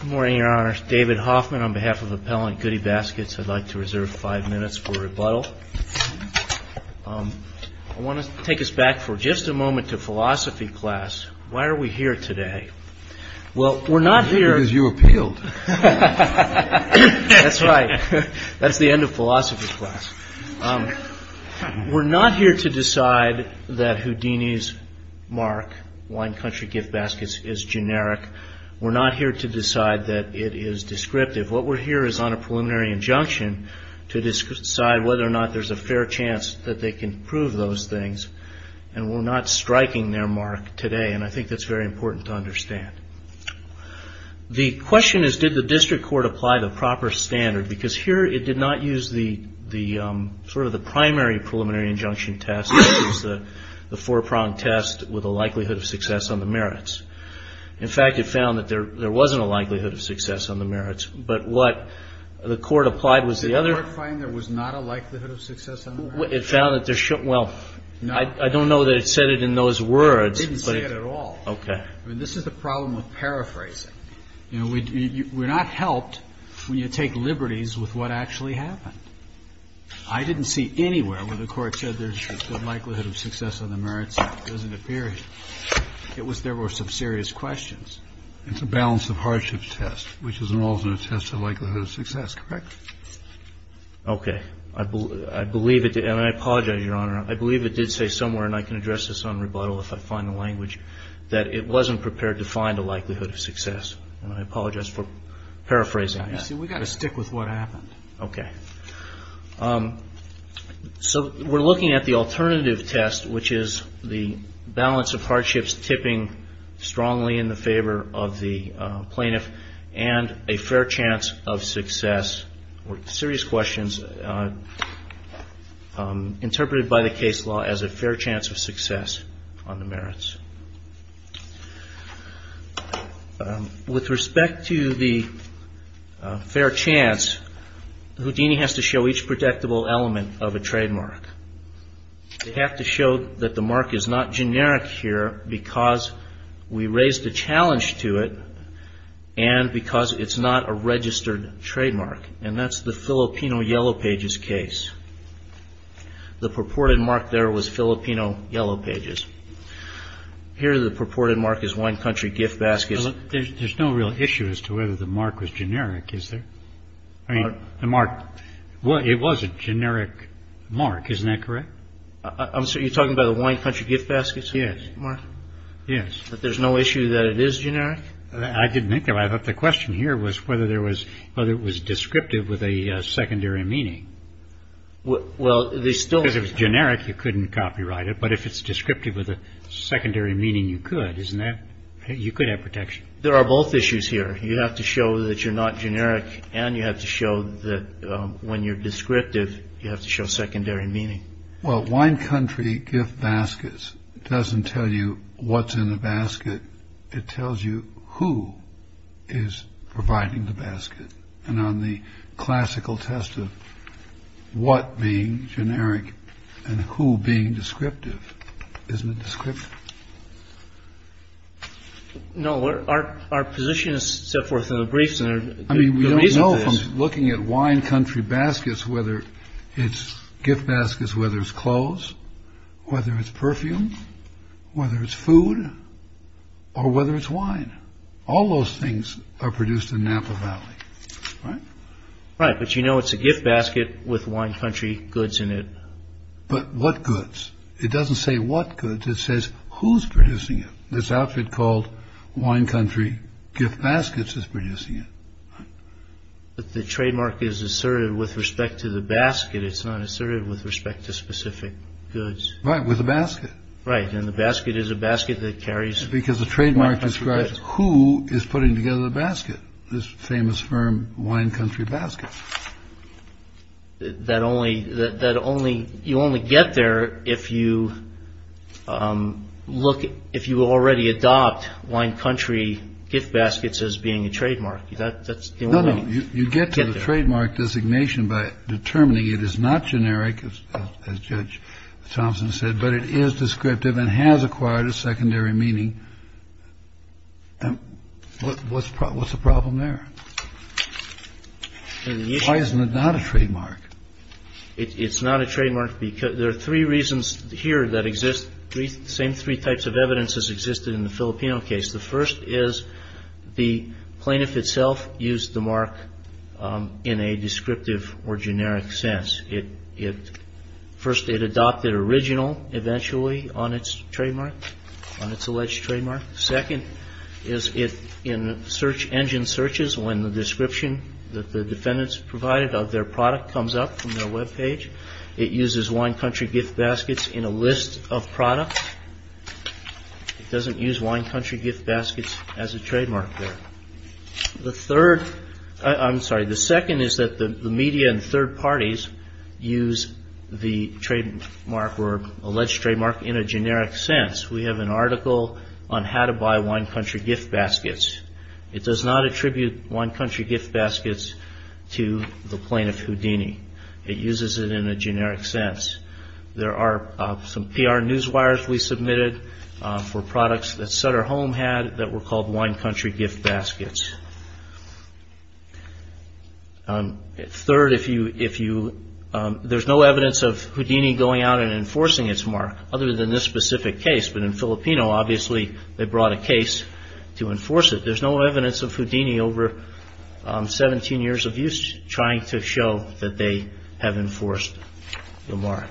Good morning, Your Honor. David Hoffman on behalf of Appellant Goody Baskets. I'd like to reserve five minutes for rebuttal. I want to take us back for just a moment to philosophy class. Why are we here today? Because you appealed. That's right. That's the end of philosophy class. We're not here to decide that Houdini's mark, Wine Country Gift Baskets, is generic. We're not here to decide that it is descriptive. What we're here is on a preliminary injunction to decide whether or not there's a fair chance that they can prove those things, and we're not striking their mark today, and I think that's very important to understand. The question is, did the district court apply the proper standard? Because here it did not use the sort of the primary preliminary injunction test. It used the four-pronged test with a likelihood of success on the merits. In fact, it found that there wasn't a likelihood of success on the merits, but what the court applied was the other... Did the court find there was not a likelihood of success on the merits? It found that there should... well, I don't know that it said it in those words, but... It didn't say it at all. Okay. I mean, this is the problem with paraphrasing. You know, we're not helped when you take liberties with what actually happened. I didn't see anywhere where the court said there's a likelihood of success on the merits. It doesn't appear here. It was there were some serious questions. It's a balance of hardship test, which is an alternate test of likelihood of success, correct? Okay. I believe it did. And I apologize, Your Honor. I believe it did say somewhere, and I can address this on rebuttal if I find the language, that it wasn't prepared to find a likelihood of success. And I apologize for paraphrasing. You see, we've got to stick with what happened. Okay. So we're looking at the alternative test, which is the balance of hardships tipping strongly in the favor of the plaintiff and a fair chance of success or serious questions interpreted by the case law as a fair chance of success on the merits. With respect to the fair chance, Houdini has to show each predictable element of a trademark. They have to show that the mark is not generic here because we raised a challenge to it and because it's not a registered trademark. And that's the Filipino Yellow Pages case. The purported mark there was Filipino Yellow Pages. Here, the purported mark is one country gift basket. There's no real issue as to whether the mark was generic, is there? I mean, the mark, it was a generic mark. Isn't that correct? So you're talking about the one country gift baskets? Yes. Yes. But there's no issue that it is generic? I didn't think that. I thought the question here was whether there was whether it was descriptive with a secondary meaning. Well, they still. If it was generic, you couldn't copyright it. But if it's descriptive with a secondary meaning, you could. Isn't that. You could have protection. There are both issues here. You have to show that you're not generic and you have to show that when you're descriptive, you have to show secondary meaning. Well, one country gift baskets doesn't tell you what's in the basket. It tells you who is providing the basket. And on the classical test of what being generic and who being descriptive is the description. No. Our position is set forth in the briefs. I mean, we don't know if I'm looking at wine country baskets, whether it's gift baskets, whether it's clothes, whether it's perfume, whether it's food or whether it's wine. All those things are produced in Napa Valley. Right. But, you know, it's a gift basket with one country goods in it. But what goods? It doesn't say what goods it says who's producing it. This outfit called Wine Country Gift Baskets is producing it. But the trademark is asserted with respect to the basket. It's not asserted with respect to specific goods. Right. With the basket. Right. And the basket is a basket that carries because the trademark describes who is putting together the basket. This famous firm, Wine Country Baskets. That only that only you only get there if you look, if you already adopt Wine Country Gift Baskets as being a trademark. That's the only you get to the trademark designation by determining it is not generic. As Judge Thompson said, but it is descriptive and has acquired a secondary meaning. And what's the problem there? Why isn't it not a trademark? It's not a trademark because there are three reasons here that exist. Three same three types of evidence has existed in the Filipino case. The first is the plaintiff itself used the mark in a descriptive or generic sense. First, it adopted original eventually on its trademark, on its alleged trademark. Second is in search engine searches when the description that the defendants provided of their product comes up from their web page. It uses Wine Country Gift Baskets in a list of products. It doesn't use Wine Country Gift Baskets as a trademark there. The third, I'm sorry, the second is that the media and third parties use the trademark or alleged trademark in a generic sense. We have an article on how to buy Wine Country Gift Baskets. It does not attribute Wine Country Gift Baskets to the plaintiff Houdini. It uses it in a generic sense. There are some PR news wires we submitted for products that Sutter Home had that were called Wine Country Gift Baskets. Third, there's no evidence of Houdini going out and enforcing its mark other than this specific case. But in Filipino, obviously, they brought a case to enforce it. There's no evidence of Houdini over 17 years of use trying to show that they have enforced the mark.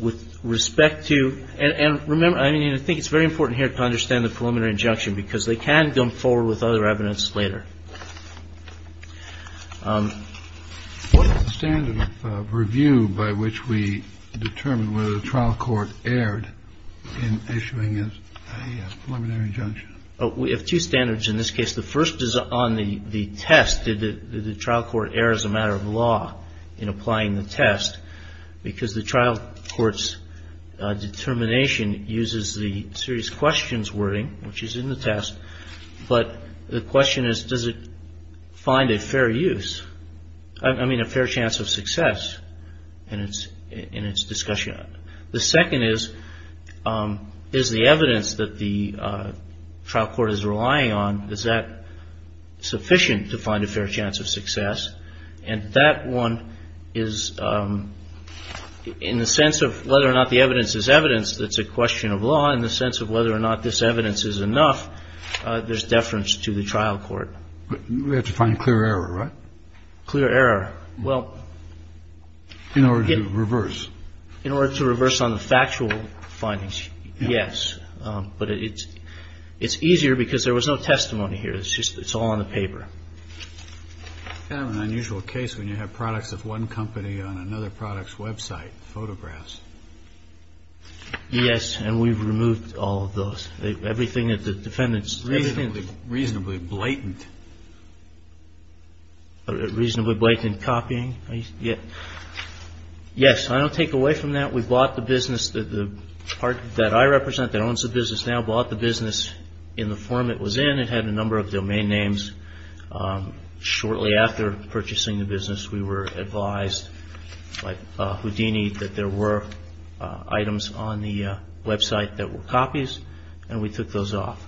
With respect to and remember, I mean, I think it's very important here to understand the preliminary injunction because they can come forward with other evidence later. What is the standard of review by which we determine whether the trial court erred in issuing a preliminary injunction? We have two standards in this case. The first is on the test. Did the trial court err as a matter of law in applying the test? Because the trial court's determination uses the serious questions wording, which is in the test. But the question is, does it find a fair use? I mean, a fair chance of success in its discussion. The second is, is the evidence that the trial court is relying on, is that sufficient to find a fair chance of success? And that one is, in the sense of whether or not the evidence is evidence that's a question of law, in the sense of whether or not this evidence is enough, there's deference to the trial court. But we have to find clear error, right? Clear error. Well. In order to reverse. In order to reverse on the factual findings, yes. But it's easier because there was no testimony here. It's just it's all on the paper. Kind of an unusual case when you have products of one company on another product's website, photographs. Yes. And we've removed all of those. Everything that the defendants. Reasonably blatant. Reasonably blatant copying. Yes. I don't take away from that. We bought the business. The part that I represent that owns the business now bought the business in the form it was in. It had a number of domain names. Shortly after purchasing the business, we were advised by Houdini that there were items on the website that were copies. And we took those off.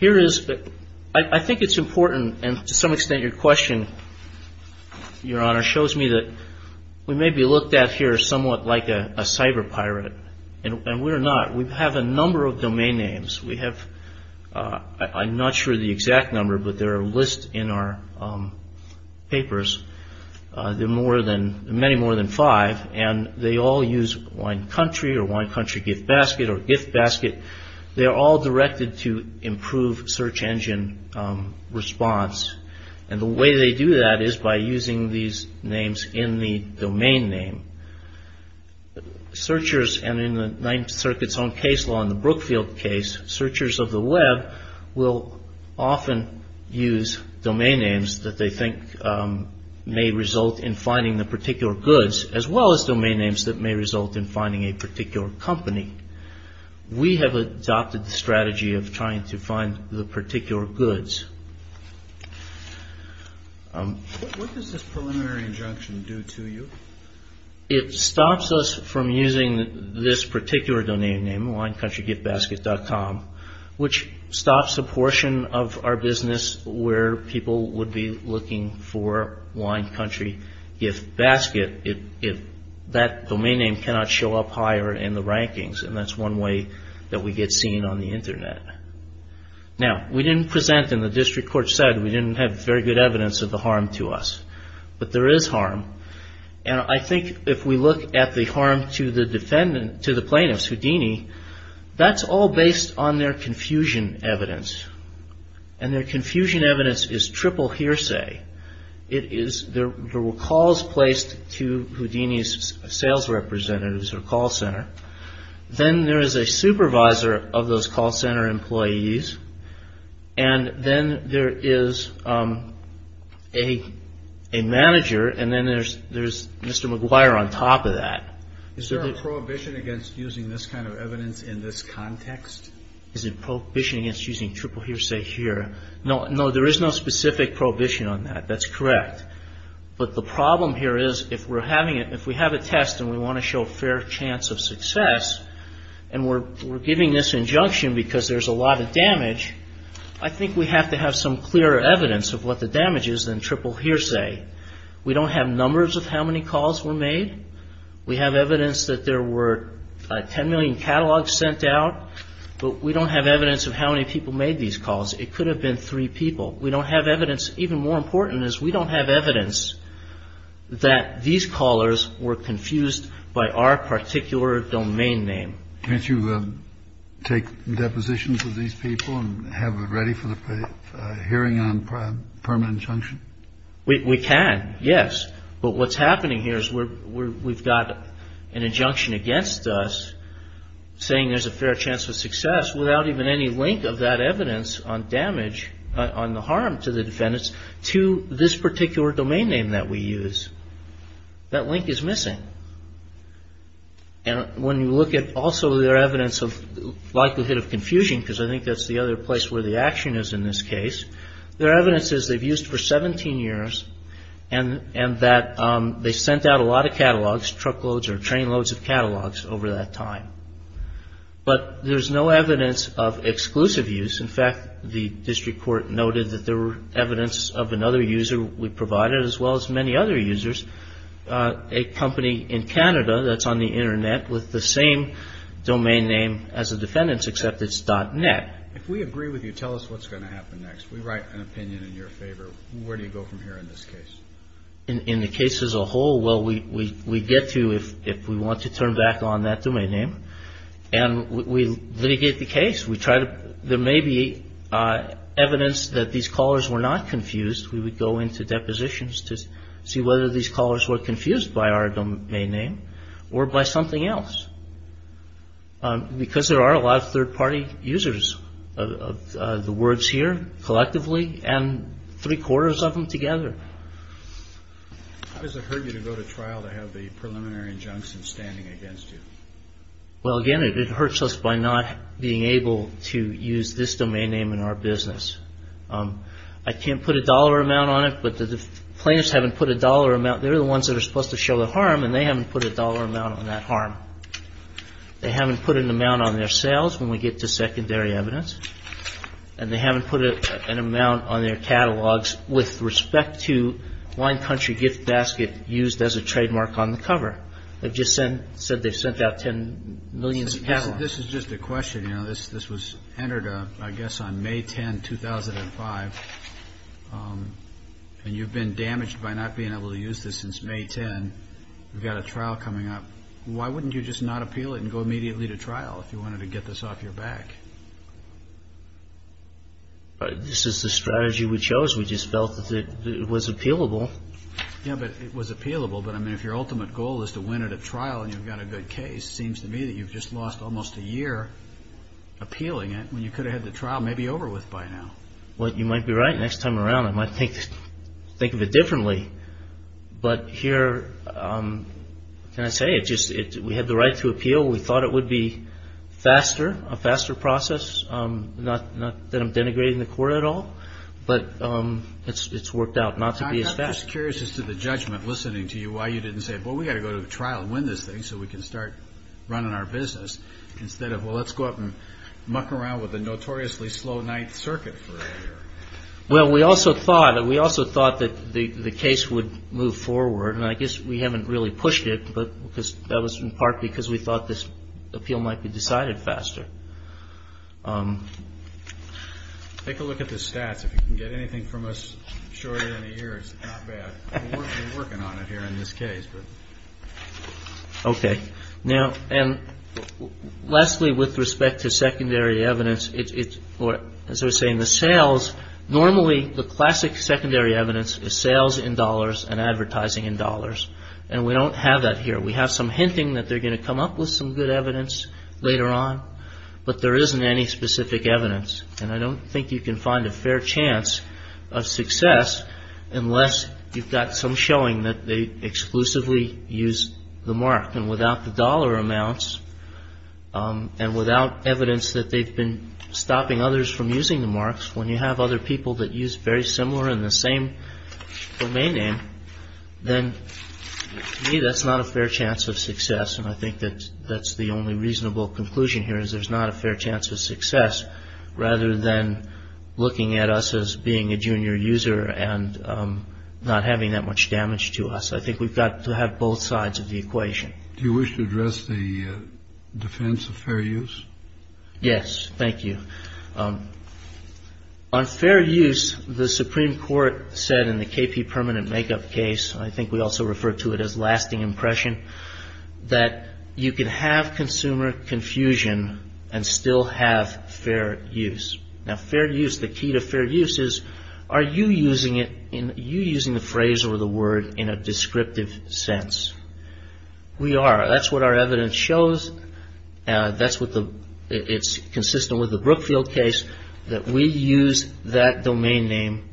Here is. I think it's important. And to some extent, your question, Your Honor, shows me that we may be looked at here somewhat like a cyber pirate. And we're not. We have a number of domain names. We have. I'm not sure the exact number, but there are lists in our papers. There are more than many, more than five. And they all use Wine Country or Wine Country Gift Basket or Gift Basket. They are all directed to improve search engine response. And the way they do that is by using these names in the domain name. Searchers, and in the Ninth Circuit's own case law in the Brookfield case, searchers of the web will often use domain names that they think may result in finding the particular goods, as well as domain names that may result in finding a particular company. We have adopted the strategy of trying to find the particular goods. What does this preliminary injunction do to you? It stops us from using this particular domain name, WineCountryGiftBasket.com, which stops a portion of our business where people would be looking for Wine Country Gift Basket. That domain name cannot show up higher in the rankings. And that's one way that we get seen on the Internet. Now, we didn't present and the district court said we didn't have very good evidence of the harm to us. But there is harm. And I think if we look at the harm to the defendant, to the plaintiffs, Houdini, that's all based on their confusion evidence. And their confusion evidence is triple hearsay. There were calls placed to Houdini's sales representatives or call center. Then there is a supervisor of those call center employees. And then there is a manager. And then there's Mr. McGuire on top of that. Is there a prohibition against using this kind of evidence in this context? Is there a prohibition against using triple hearsay here? No, there is no specific prohibition on that. That's correct. But the problem here is if we're having it, if we have a test and we want to show a fair chance of success, and we're giving this injunction because there's a lot of damage, I think we have to have some clear evidence of what the damage is in triple hearsay. We don't have numbers of how many calls were made. We have evidence that there were 10 million catalogs sent out. But we don't have evidence of how many people made these calls. It could have been three people. We don't have evidence. Even more important is we don't have evidence that these callers were confused by our particular domain name. Can't you take depositions of these people and have them ready for the hearing on permanent injunction? We can, yes. But what's happening here is we've got an injunction against us saying there's a fair chance of success without even any link of that evidence on damage, on the harm to the defendants, to this particular domain name that we use. That link is missing. And when you look at also their evidence of likelihood of confusion, because I think that's the other place where the action is in this case, their evidence is they've used for 17 years and that they sent out a lot of catalogs, truckloads or trainloads of catalogs over that time. But there's no evidence of exclusive use. In fact, the district court noted that there were evidence of another user we provided as well as many other users, a company in Canada that's on the Internet with the same domain name as the defendants, except it's .net. If we agree with you, tell us what's going to happen next. We write an opinion in your favor. Where do you go from here in this case? In the case as a whole, well, we get to if we want to turn back on that domain name and we litigate the case. There may be evidence that these callers were not confused. We would go into depositions to see whether these callers were confused by our domain name or by something else. Because there are a lot of third-party users of the words here collectively and three-quarters of them together. How does it hurt you to go to trial to have the preliminary injunctions standing against you? Well, again, it hurts us by not being able to use this domain name in our business. I can't put a dollar amount on it, but the plaintiffs haven't put a dollar amount. They're the ones that are supposed to show the harm, and they haven't put a dollar amount on that harm. They haven't put an amount on their sales when we get to secondary evidence, and they haven't put an amount on their catalogs with respect to Wine Country gift basket used as a trademark on the cover. They've just said they've sent out 10 million catalogs. This is just a question. This was entered, I guess, on May 10, 2005, and you've been damaged by not being able to use this since May 10. We've got a trial coming up. Why wouldn't you just not appeal it and go immediately to trial if you wanted to get this off your back? This is the strategy we chose. We just felt that it was appealable. Yeah, but it was appealable. But, I mean, if your ultimate goal is to win at a trial and you've got a good case, it seems to me that you've just lost almost a year appealing it when you could have had the trial maybe over with by now. Well, you might be right. Next time around I might think of it differently. But here, can I say, we had the right to appeal. We thought it would be faster, a faster process, not that I'm denigrating the court at all. But it's worked out not to be as fast. I'm just curious as to the judgment, listening to you, why you didn't say, well, we've got to go to trial and win this thing so we can start running our business, instead of, well, let's go up and muck around with a notoriously slow ninth circuit for a year. Well, we also thought that the case would move forward. And I guess we haven't really pushed it, but that was in part because we thought this appeal might be decided faster. Take a look at the stats. If you can get anything from us shorter than a year, it's not bad. We're working on it here in this case. Okay. Now, and lastly, with respect to secondary evidence, as I was saying, the sales, normally the classic secondary evidence is sales in dollars and advertising in dollars. And we don't have that here. We have some hinting that they're going to come up with some good evidence later on, but there isn't any specific evidence. And I don't think you can find a fair chance of success unless you've got some showing that they exclusively use the mark. And without the dollar amounts, and without evidence that they've been stopping others from using the marks, when you have other people that use very similar and the same domain name, then to me that's not a fair chance of success. And I think that that's the only reasonable conclusion here, is there's not a fair chance of success rather than looking at us as being a junior user and not having that much damage to us. I think we've got to have both sides of the equation. Do you wish to address the defense of fair use? Yes. Thank you. On fair use, the Supreme Court said in the KP permanent makeup case, and I think we also refer to it as lasting impression, that you can have consumer confusion and still have fair use. Now, fair use, the key to fair use is, are you using the phrase or the word in a descriptive sense? We are. That's what our evidence shows. It's consistent with the Brookfield case that we use that domain name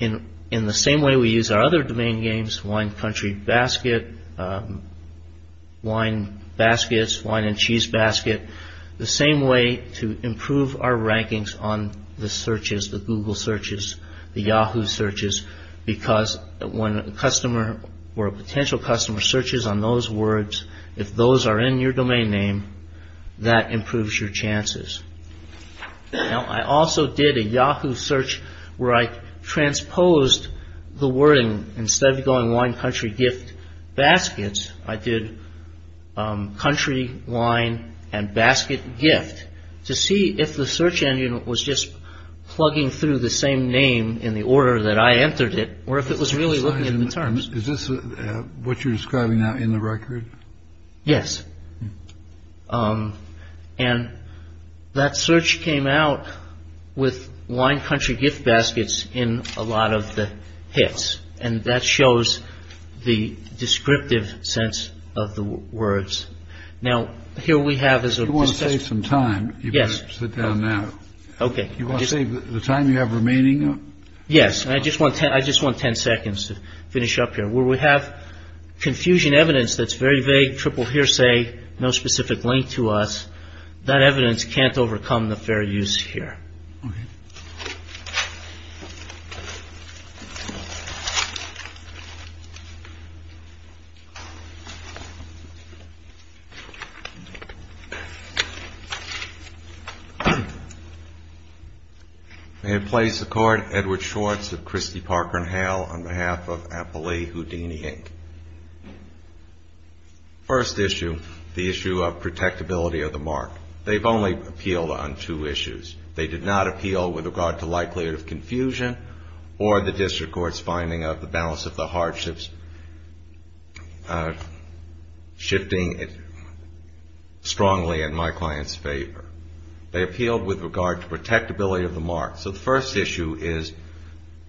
in the same way we use our other domain names, wine country basket, wine baskets, wine and cheese basket, the same way to improve our rankings on the searches, the Google searches, the Yahoo searches, because when a customer or a potential customer searches on those words, if those are in your domain name, that improves your chances. Now, I also did a Yahoo search where I transposed the wording. Instead of going wine, country, gift, baskets, I did country, wine and basket gift to see if the search engine was just plugging through the same name in the order that I entered it or if it was really looking at the terms. Is this what you're describing now in the record? Yes. And that search came out with wine, country, gift, baskets in a lot of the hits. And that shows the descriptive sense of the words. Now, here we have as a. You want to save some time. Yes. Sit down now. OK. You want to save the time you have remaining. Yes. I just want to. I just want 10 seconds to finish up here. We have confusion evidence that's very vague. Triple hearsay. No specific link to us. That evidence can't overcome the fair use here. May it please the Court. Edward Schwartz of Christie, Parker and Hale on behalf of Appley Houdini, Inc. First issue, the issue of protectability of the mark. They've only appealed on two issues. They did not appeal with regard to likelihood of confusion or the district court's finding of the balance of the hardships shifting strongly in my client's favor. They appealed with regard to protectability of the mark. So the first issue is,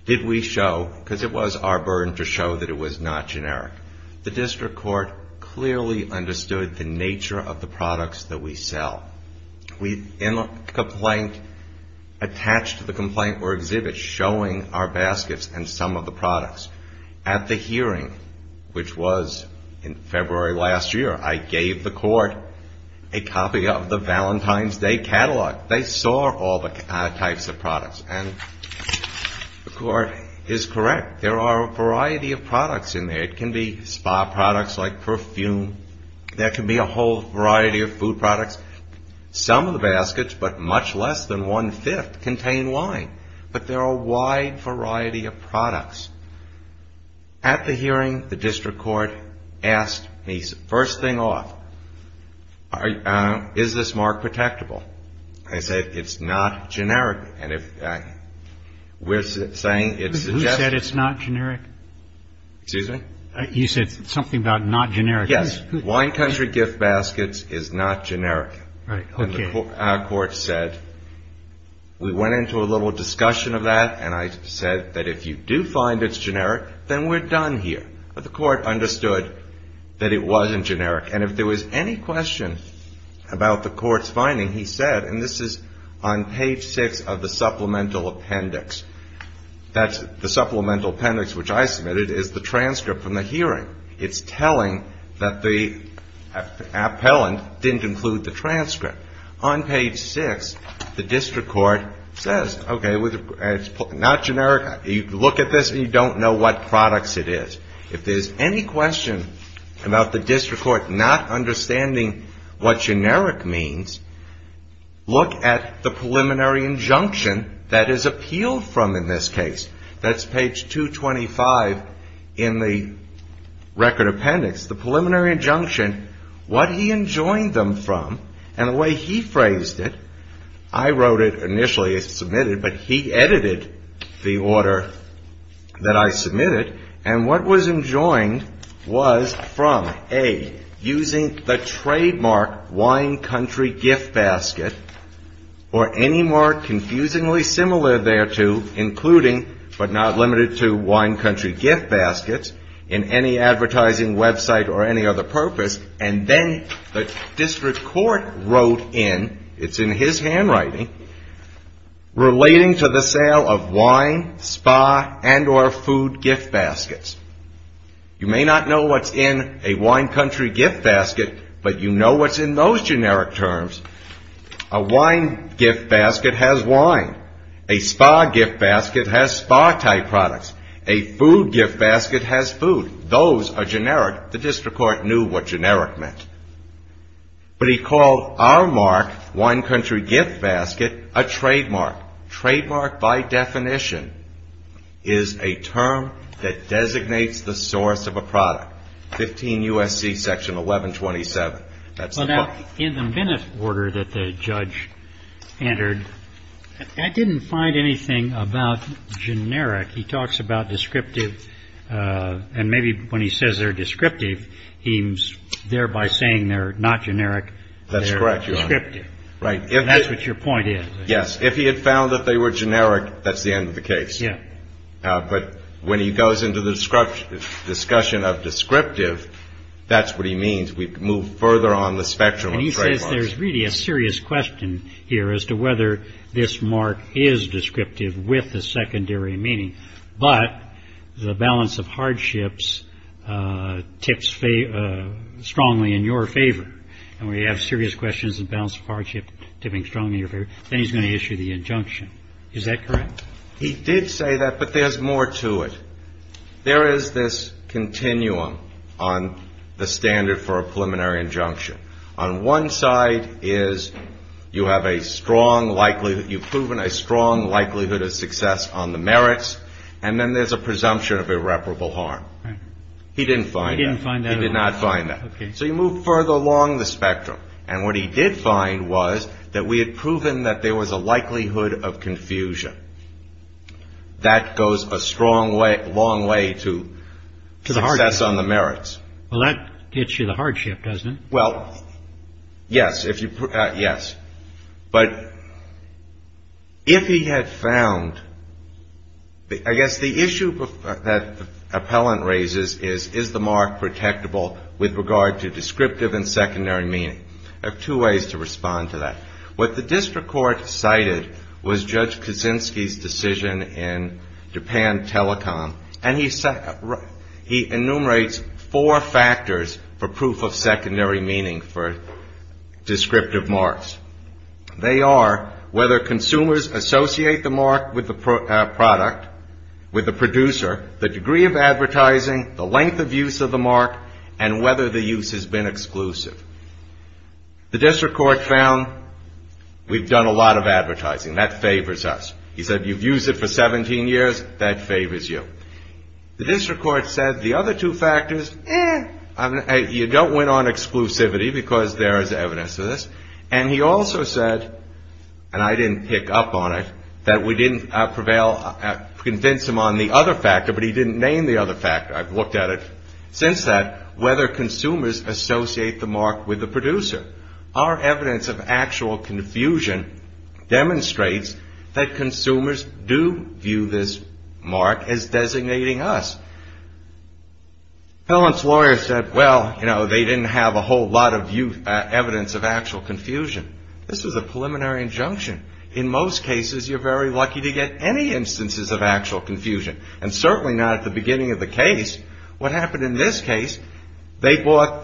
did we show, because it was our burden to show that it was not generic. The district court clearly understood the nature of the products that we sell. We attached to the complaint or exhibit showing our baskets and some of the products. At the hearing, which was in February last year, I gave the court a copy of the Valentine's Day catalog. They saw all the types of products. And the court is correct. There are a variety of products in there. It can be spa products like perfume. There can be a whole variety of food products. Some of the baskets, but much less than one-fifth, contain wine. But there are a wide variety of products. At the hearing, the district court asked me, first thing off, is this mark protectable? I said, it's not generic. And we're saying it's suggested. Who said it's not generic? Excuse me? You said something about not generic. Yes. Wine country gift baskets is not generic. Our court said, we went into a little discussion of that. And I said that if you do find it's generic, then we're done here. But the court understood that it wasn't generic. And if there was any question about the court's finding, he said, and this is on page 6 of the supplemental appendix. The supplemental appendix, which I submitted, is the transcript from the hearing. It's telling that the appellant didn't include the transcript. On page 6, the district court says, okay, it's not generic. You look at this and you don't know what products it is. If there's any question about the district court not understanding what generic means, look at the preliminary injunction that is appealed from in this case. That's page 225 in the record appendix. The preliminary injunction, what he enjoined them from, and the way he phrased it, I wrote it initially as submitted, but he edited the order that I submitted. And what was enjoined was from, A, using the trademark wine country gift basket, or any more confusingly similar thereto, including, but not limited to, wine country gift baskets in any advertising website or any other purpose. And then the district court wrote in, it's in his handwriting, relating to the sale of wine, spa, and or food gift baskets. You may not know what's in a wine country gift basket, but you know what's in those generic terms. A wine gift basket has wine. A spa gift basket has spa-type products. A food gift basket has food. Those are generic. The district court knew what generic meant. But he called our mark, wine country gift basket, a trademark. Trademark, by definition, is a term that designates the source of a product. 15 U.S.C. Section 1127. In the Bennett order that the judge entered, I didn't find anything about generic. He talks about descriptive. And maybe when he says they're descriptive, he's thereby saying they're not generic. That's correct, Your Honor. They're descriptive. Right. That's what your point is. Yes. If he had found that they were generic, that's the end of the case. Yeah. But when he goes into the discussion of descriptive, that's what he means. We move further on the spectrum of trademarks. And he says there's really a serious question here as to whether this mark is descriptive with a secondary meaning, but the balance of hardships tips strongly in your favor. And when you have serious questions and balance of hardship tipping strongly in your favor, then he's going to issue the injunction. Is that correct? He did say that, but there's more to it. There is this continuum on the standard for a preliminary injunction. On one side is you have a strong likelihood, you've proven a strong likelihood of success on the merits, and then there's a presumption of irreparable harm. Right. He didn't find that. He didn't find that at all. He did not find that. Okay. So you move further along the spectrum. And what he did find was that we had proven that there was a likelihood of confusion. That goes a long way to success on the merits. Well, that gets you the hardship, doesn't it? Well, yes. Yes. But if he had found, I guess the issue that the appellant raises is, is the mark protectable with regard to descriptive and secondary meaning? I have two ways to respond to that. What the district court cited was Judge Kaczynski's decision in Japan Telecom, and he enumerates four factors for proof of secondary meaning for descriptive marks. They are whether consumers associate the mark with the product, with the producer, the degree of advertising, the length of use of the mark, and whether the use has been exclusive. The district court found we've done a lot of advertising. That favors us. He said you've used it for 17 years. That favors you. The district court said the other two factors, you don't win on exclusivity because there is evidence of this. And he also said, and I didn't pick up on it, that we didn't prevail, convince him on the other factor, but he didn't name the other factor. I've looked at it. Since that, whether consumers associate the mark with the producer. Our evidence of actual confusion demonstrates that consumers do view this mark as designating us. Appellant's lawyer said, well, you know, they didn't have a whole lot of evidence of actual confusion. This is a preliminary injunction. In most cases, you're very lucky to get any instances of actual confusion. And certainly not at the beginning of the case. What happened in this case, they bought,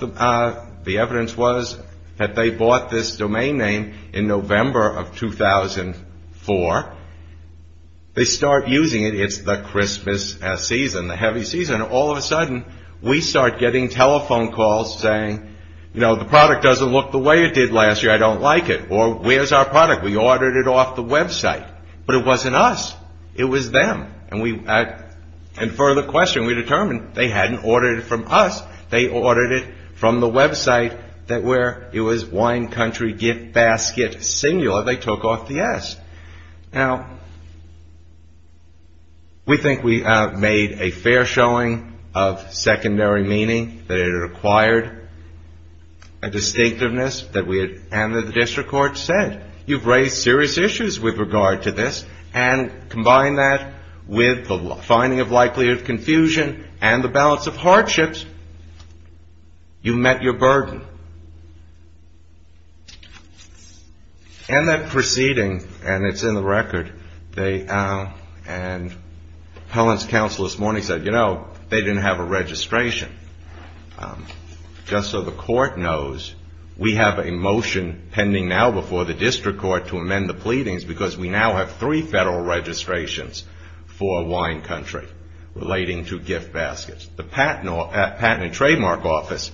the evidence was that they bought this domain name in November of 2004. They start using it. It's the Christmas season, the heavy season. All of a sudden, we start getting telephone calls saying, you know, the product doesn't look the way it did last year. I don't like it. Or where's our product? We ordered it off the website. But it wasn't us. It was them. And we, in further question, we determined they hadn't ordered it from us. They ordered it from the website that where it was wine country gift basket singular, they took off the S. Now, we think we made a fair showing of secondary meaning, that it required a distinctiveness, that we had, and the district court said, you've raised serious issues with regard to this. And combine that with the finding of likelihood of confusion and the balance of hardships, you met your burden. And that proceeding, and it's in the record, they, and Helen's counsel this morning said, you know, they didn't have a registration. Just so the court knows, we have a motion pending now before the district court to amend the pleadings, because we now have three federal registrations for wine country relating to gift baskets. The Patent and Trademark Office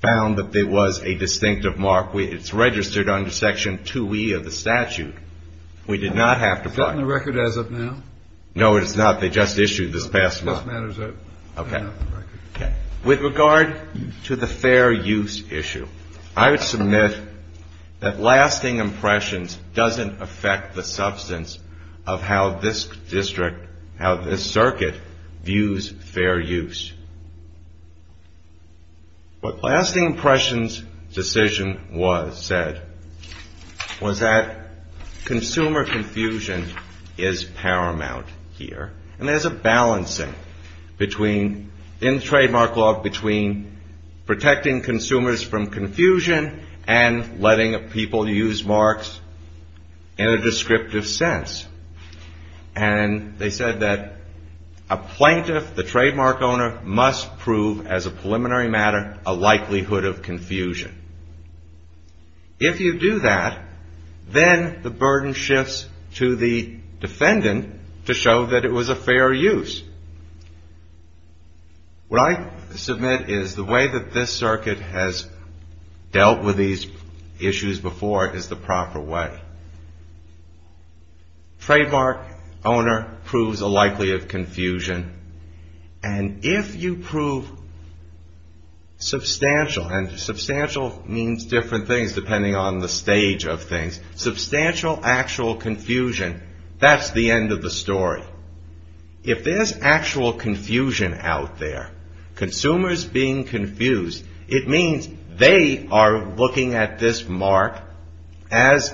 found that there was a distinctive mark. It's registered under Section 2E of the statute. We did not have to find it. Is that in the record as of now? No, it is not. They just issued this past month. Okay. With regard to the fair use issue, I would submit that lasting impressions doesn't affect the substance of how this district, how this circuit views fair use. What lasting impressions decision was, said, was that consumer confusion is paramount here. And there's a balancing between, in the trademark law, between protecting consumers from confusion and letting people use marks in a descriptive sense. And they said that a plaintiff, the trademark owner, must prove as a preliminary matter a likelihood of confusion. If you do that, then the burden shifts to the defendant to show that it was a fair use. What I submit is the way that this circuit has dealt with these issues before is the proper way. Trademark owner proves a likelihood of confusion. And if you prove substantial, and substantial means different things depending on the stage of things, substantial actual confusion, that's the end of the story. If there's actual confusion out there, consumers being confused, it means they are looking at this mark,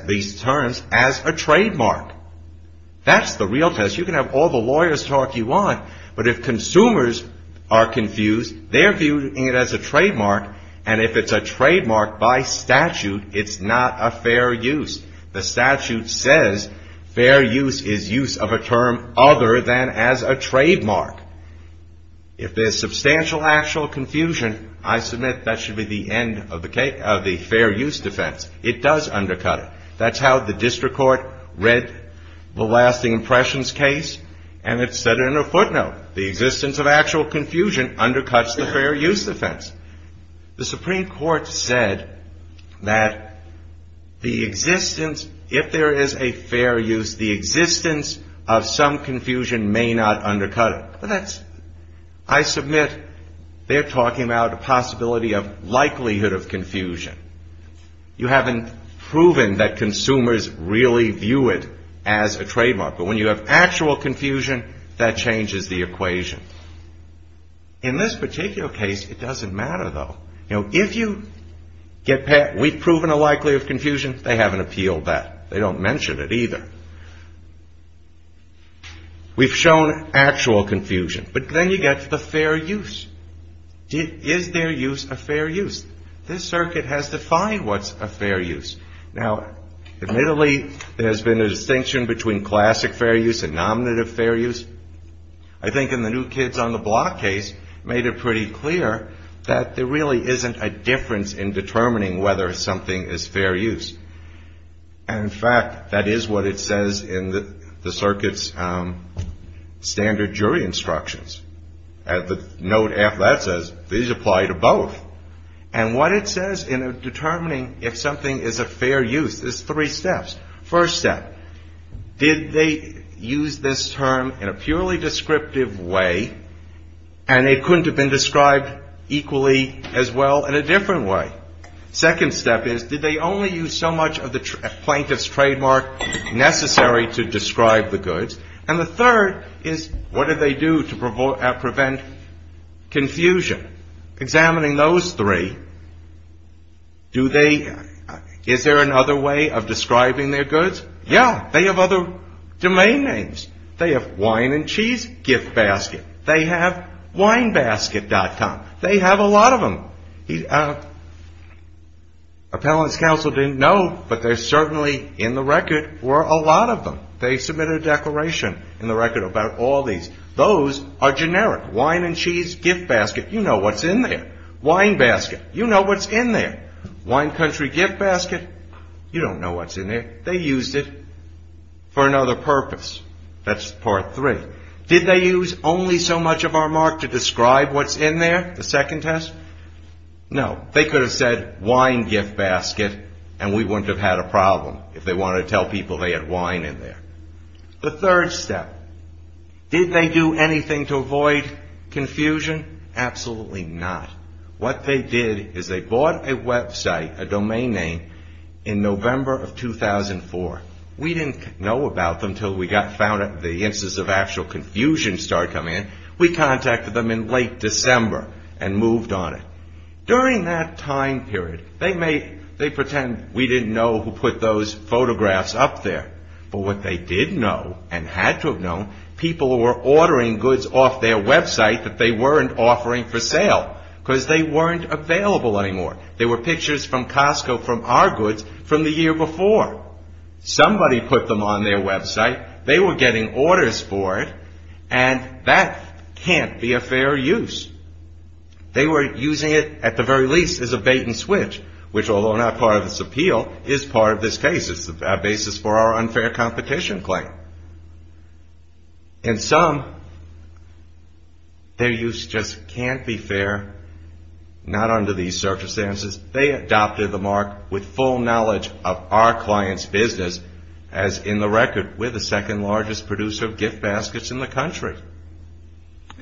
these terms, as a trademark. That's the real test. You can have all the lawyer's talk you want, but if consumers are confused, they're viewing it as a trademark. And if it's a trademark by statute, it's not a fair use. The statute says fair use is use of a term other than as a trademark. If there's substantial actual confusion, I submit that should be the end of the fair use defense. It does undercut it. That's how the district court read the lasting impressions case, and it said it in a footnote. The existence of actual confusion undercuts the fair use defense. The Supreme Court said that the existence, if there is a fair use, the existence of some confusion may not undercut it. But that's, I submit, they're talking about a possibility of likelihood of confusion. You haven't proven that consumers really view it as a trademark. But when you have actual confusion, that changes the equation. In this particular case, it doesn't matter, though. You know, if you get, we've proven a likelihood of confusion, they haven't appealed that. They don't mention it either. We've shown actual confusion. But then you get to the fair use. Is there use of fair use? This circuit has defined what's a fair use. Now, admittedly, there's been a distinction between classic fair use and nominative fair use. I think in the New Kids on the Block case made it pretty clear that there really isn't a difference in determining whether something is fair use. And, in fact, that is what it says in the circuit's standard jury instructions. As the note after that says, these apply to both. And what it says in determining if something is a fair use is three steps. First step, did they use this term in a purely descriptive way and it couldn't have been described equally as well in a different way? Second step is, did they only use so much of the plaintiff's trademark necessary to describe the goods? And the third is, what did they do to prevent confusion? Examining those three, is there another way of describing their goods? Yeah. They have other domain names. They have wine and cheese gift basket. They have winebasket.com. They have a lot of them. Appellant's counsel didn't know, but there certainly in the record were a lot of them. They submitted a declaration in the record about all these. Those are generic. Wine and cheese gift basket, you know what's in there. Winebasket, you know what's in there. Wine country gift basket, you don't know what's in there. They used it for another purpose. That's part three. Did they use only so much of our mark to describe what's in there, the second test? No. They could have said, wine gift basket, and we wouldn't have had a problem if they wanted to tell people they had wine in there. The third step, did they do anything to avoid confusion? Absolutely not. What they did is they bought a website, a domain name, in November of 2004. We didn't know about them until we found out the instance of actual confusion started coming in. We contacted them in late December and moved on it. During that time period, they pretend we didn't know who put those photographs up there. But what they did know and had to have known, people were ordering goods off their website that they weren't offering for sale because they weren't available anymore. They were pictures from Costco from our goods from the year before. Somebody put them on their website. They were getting orders for it, and that can't be a fair use. They were using it, at the very least, as a bait and switch, which, although not part of this appeal, is part of this case. It's the basis for our unfair competition claim. In sum, their use just can't be fair, not under these circumstances. They adopted the mark with full knowledge of our client's business. As in the record, we're the second largest producer of gift baskets in the country.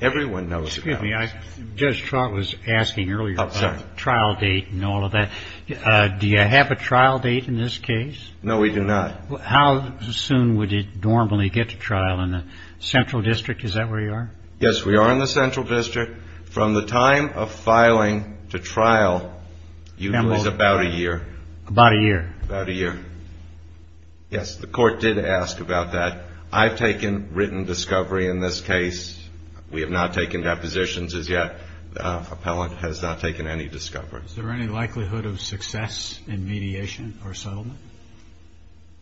Everyone knows about us. Excuse me. Judge Trott was asking earlier about the trial date and all of that. Do you have a trial date in this case? No, we do not. How soon would you normally get to trial? In the Central District, is that where you are? Yes, we are in the Central District. From the time of filing to trial usually is about a year. About a year. About a year. Yes, the court did ask about that. I've taken written discovery in this case. We have not taken depositions as yet. The appellant has not taken any discovery. Is there any likelihood of success in mediation or settlement?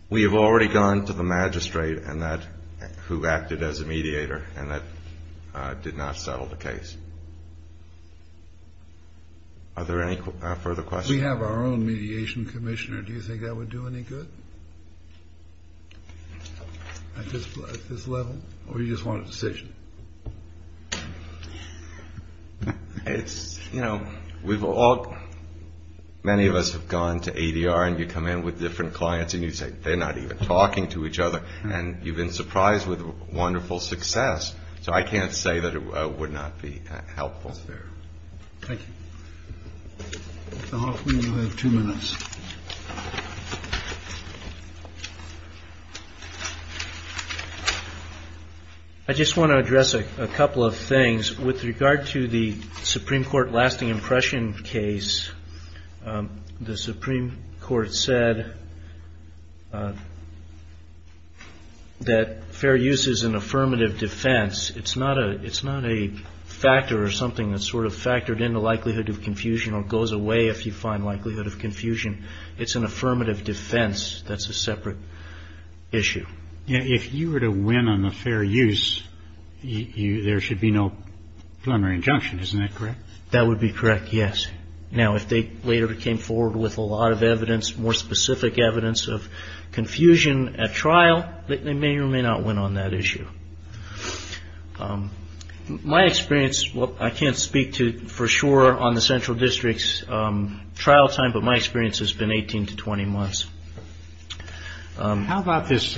We have already gone to the magistrate, who acted as a mediator, and that did not settle the case. Are there any further questions? We have our own mediation commissioner. Do you think that would do any good at this level, or do you just want a decision? You know, many of us have gone to ADR, and you come in with different clients, and you say they're not even talking to each other, and you've been surprised with wonderful success. So I can't say that it would not be helpful. Thank you. Two minutes. I just want to address a couple of things with regard to the Supreme Court lasting impression case. The Supreme Court said that fair use is an affirmative defense. It's not a factor or something that's sort of factored into likelihood of confusion or goes away if you find likelihood of confusion. It's an affirmative defense that's a separate issue. If you were to win on the fair use, there should be no preliminary injunction. Isn't that correct? That would be correct, yes. Now, if they later came forward with a lot of evidence, more specific evidence of confusion at trial, they may or may not win on that issue. My experience, I can't speak for sure on the Central District's trial time, but my experience has been 18 to 20 months. How about this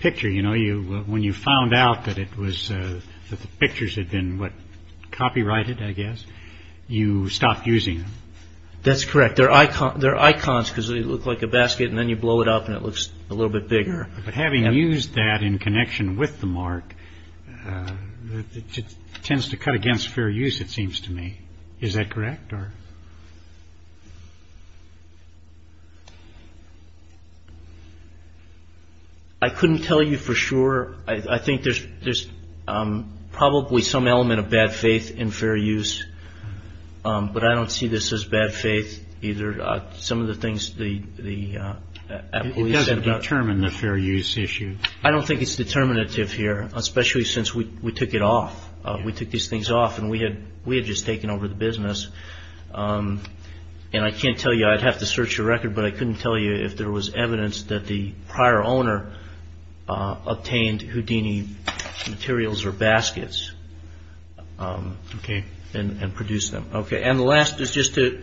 picture? When you found out that the pictures had been copyrighted, I guess, you stopped using them. That's correct. They're icons because they look like a basket, and then you blow it up, and it looks a little bit bigger. But having used that in connection with the mark, it tends to cut against fair use, it seems to me. Is that correct? I couldn't tell you for sure. I think there's probably some element of bad faith in fair use, but I don't see this as bad faith either. It doesn't determine the fair use issue. I don't think it's determinative here, especially since we took it off. We took these things off, and we had just taken over the business. And I can't tell you, I'd have to search your record, but I couldn't tell you if there was evidence that the prior owner obtained Houdini materials or baskets and produced them. OK. And the last is just to,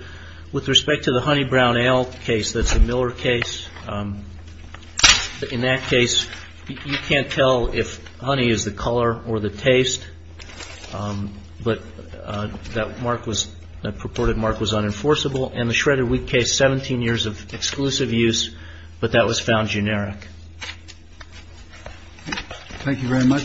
with respect to the honey brown ale case, that's a Miller case. In that case, you can't tell if honey is the color or the taste. But that mark was, that purported mark was unenforceable. And the shredded wheat case, 17 years of exclusive use, but that was found generic. Thank you very much.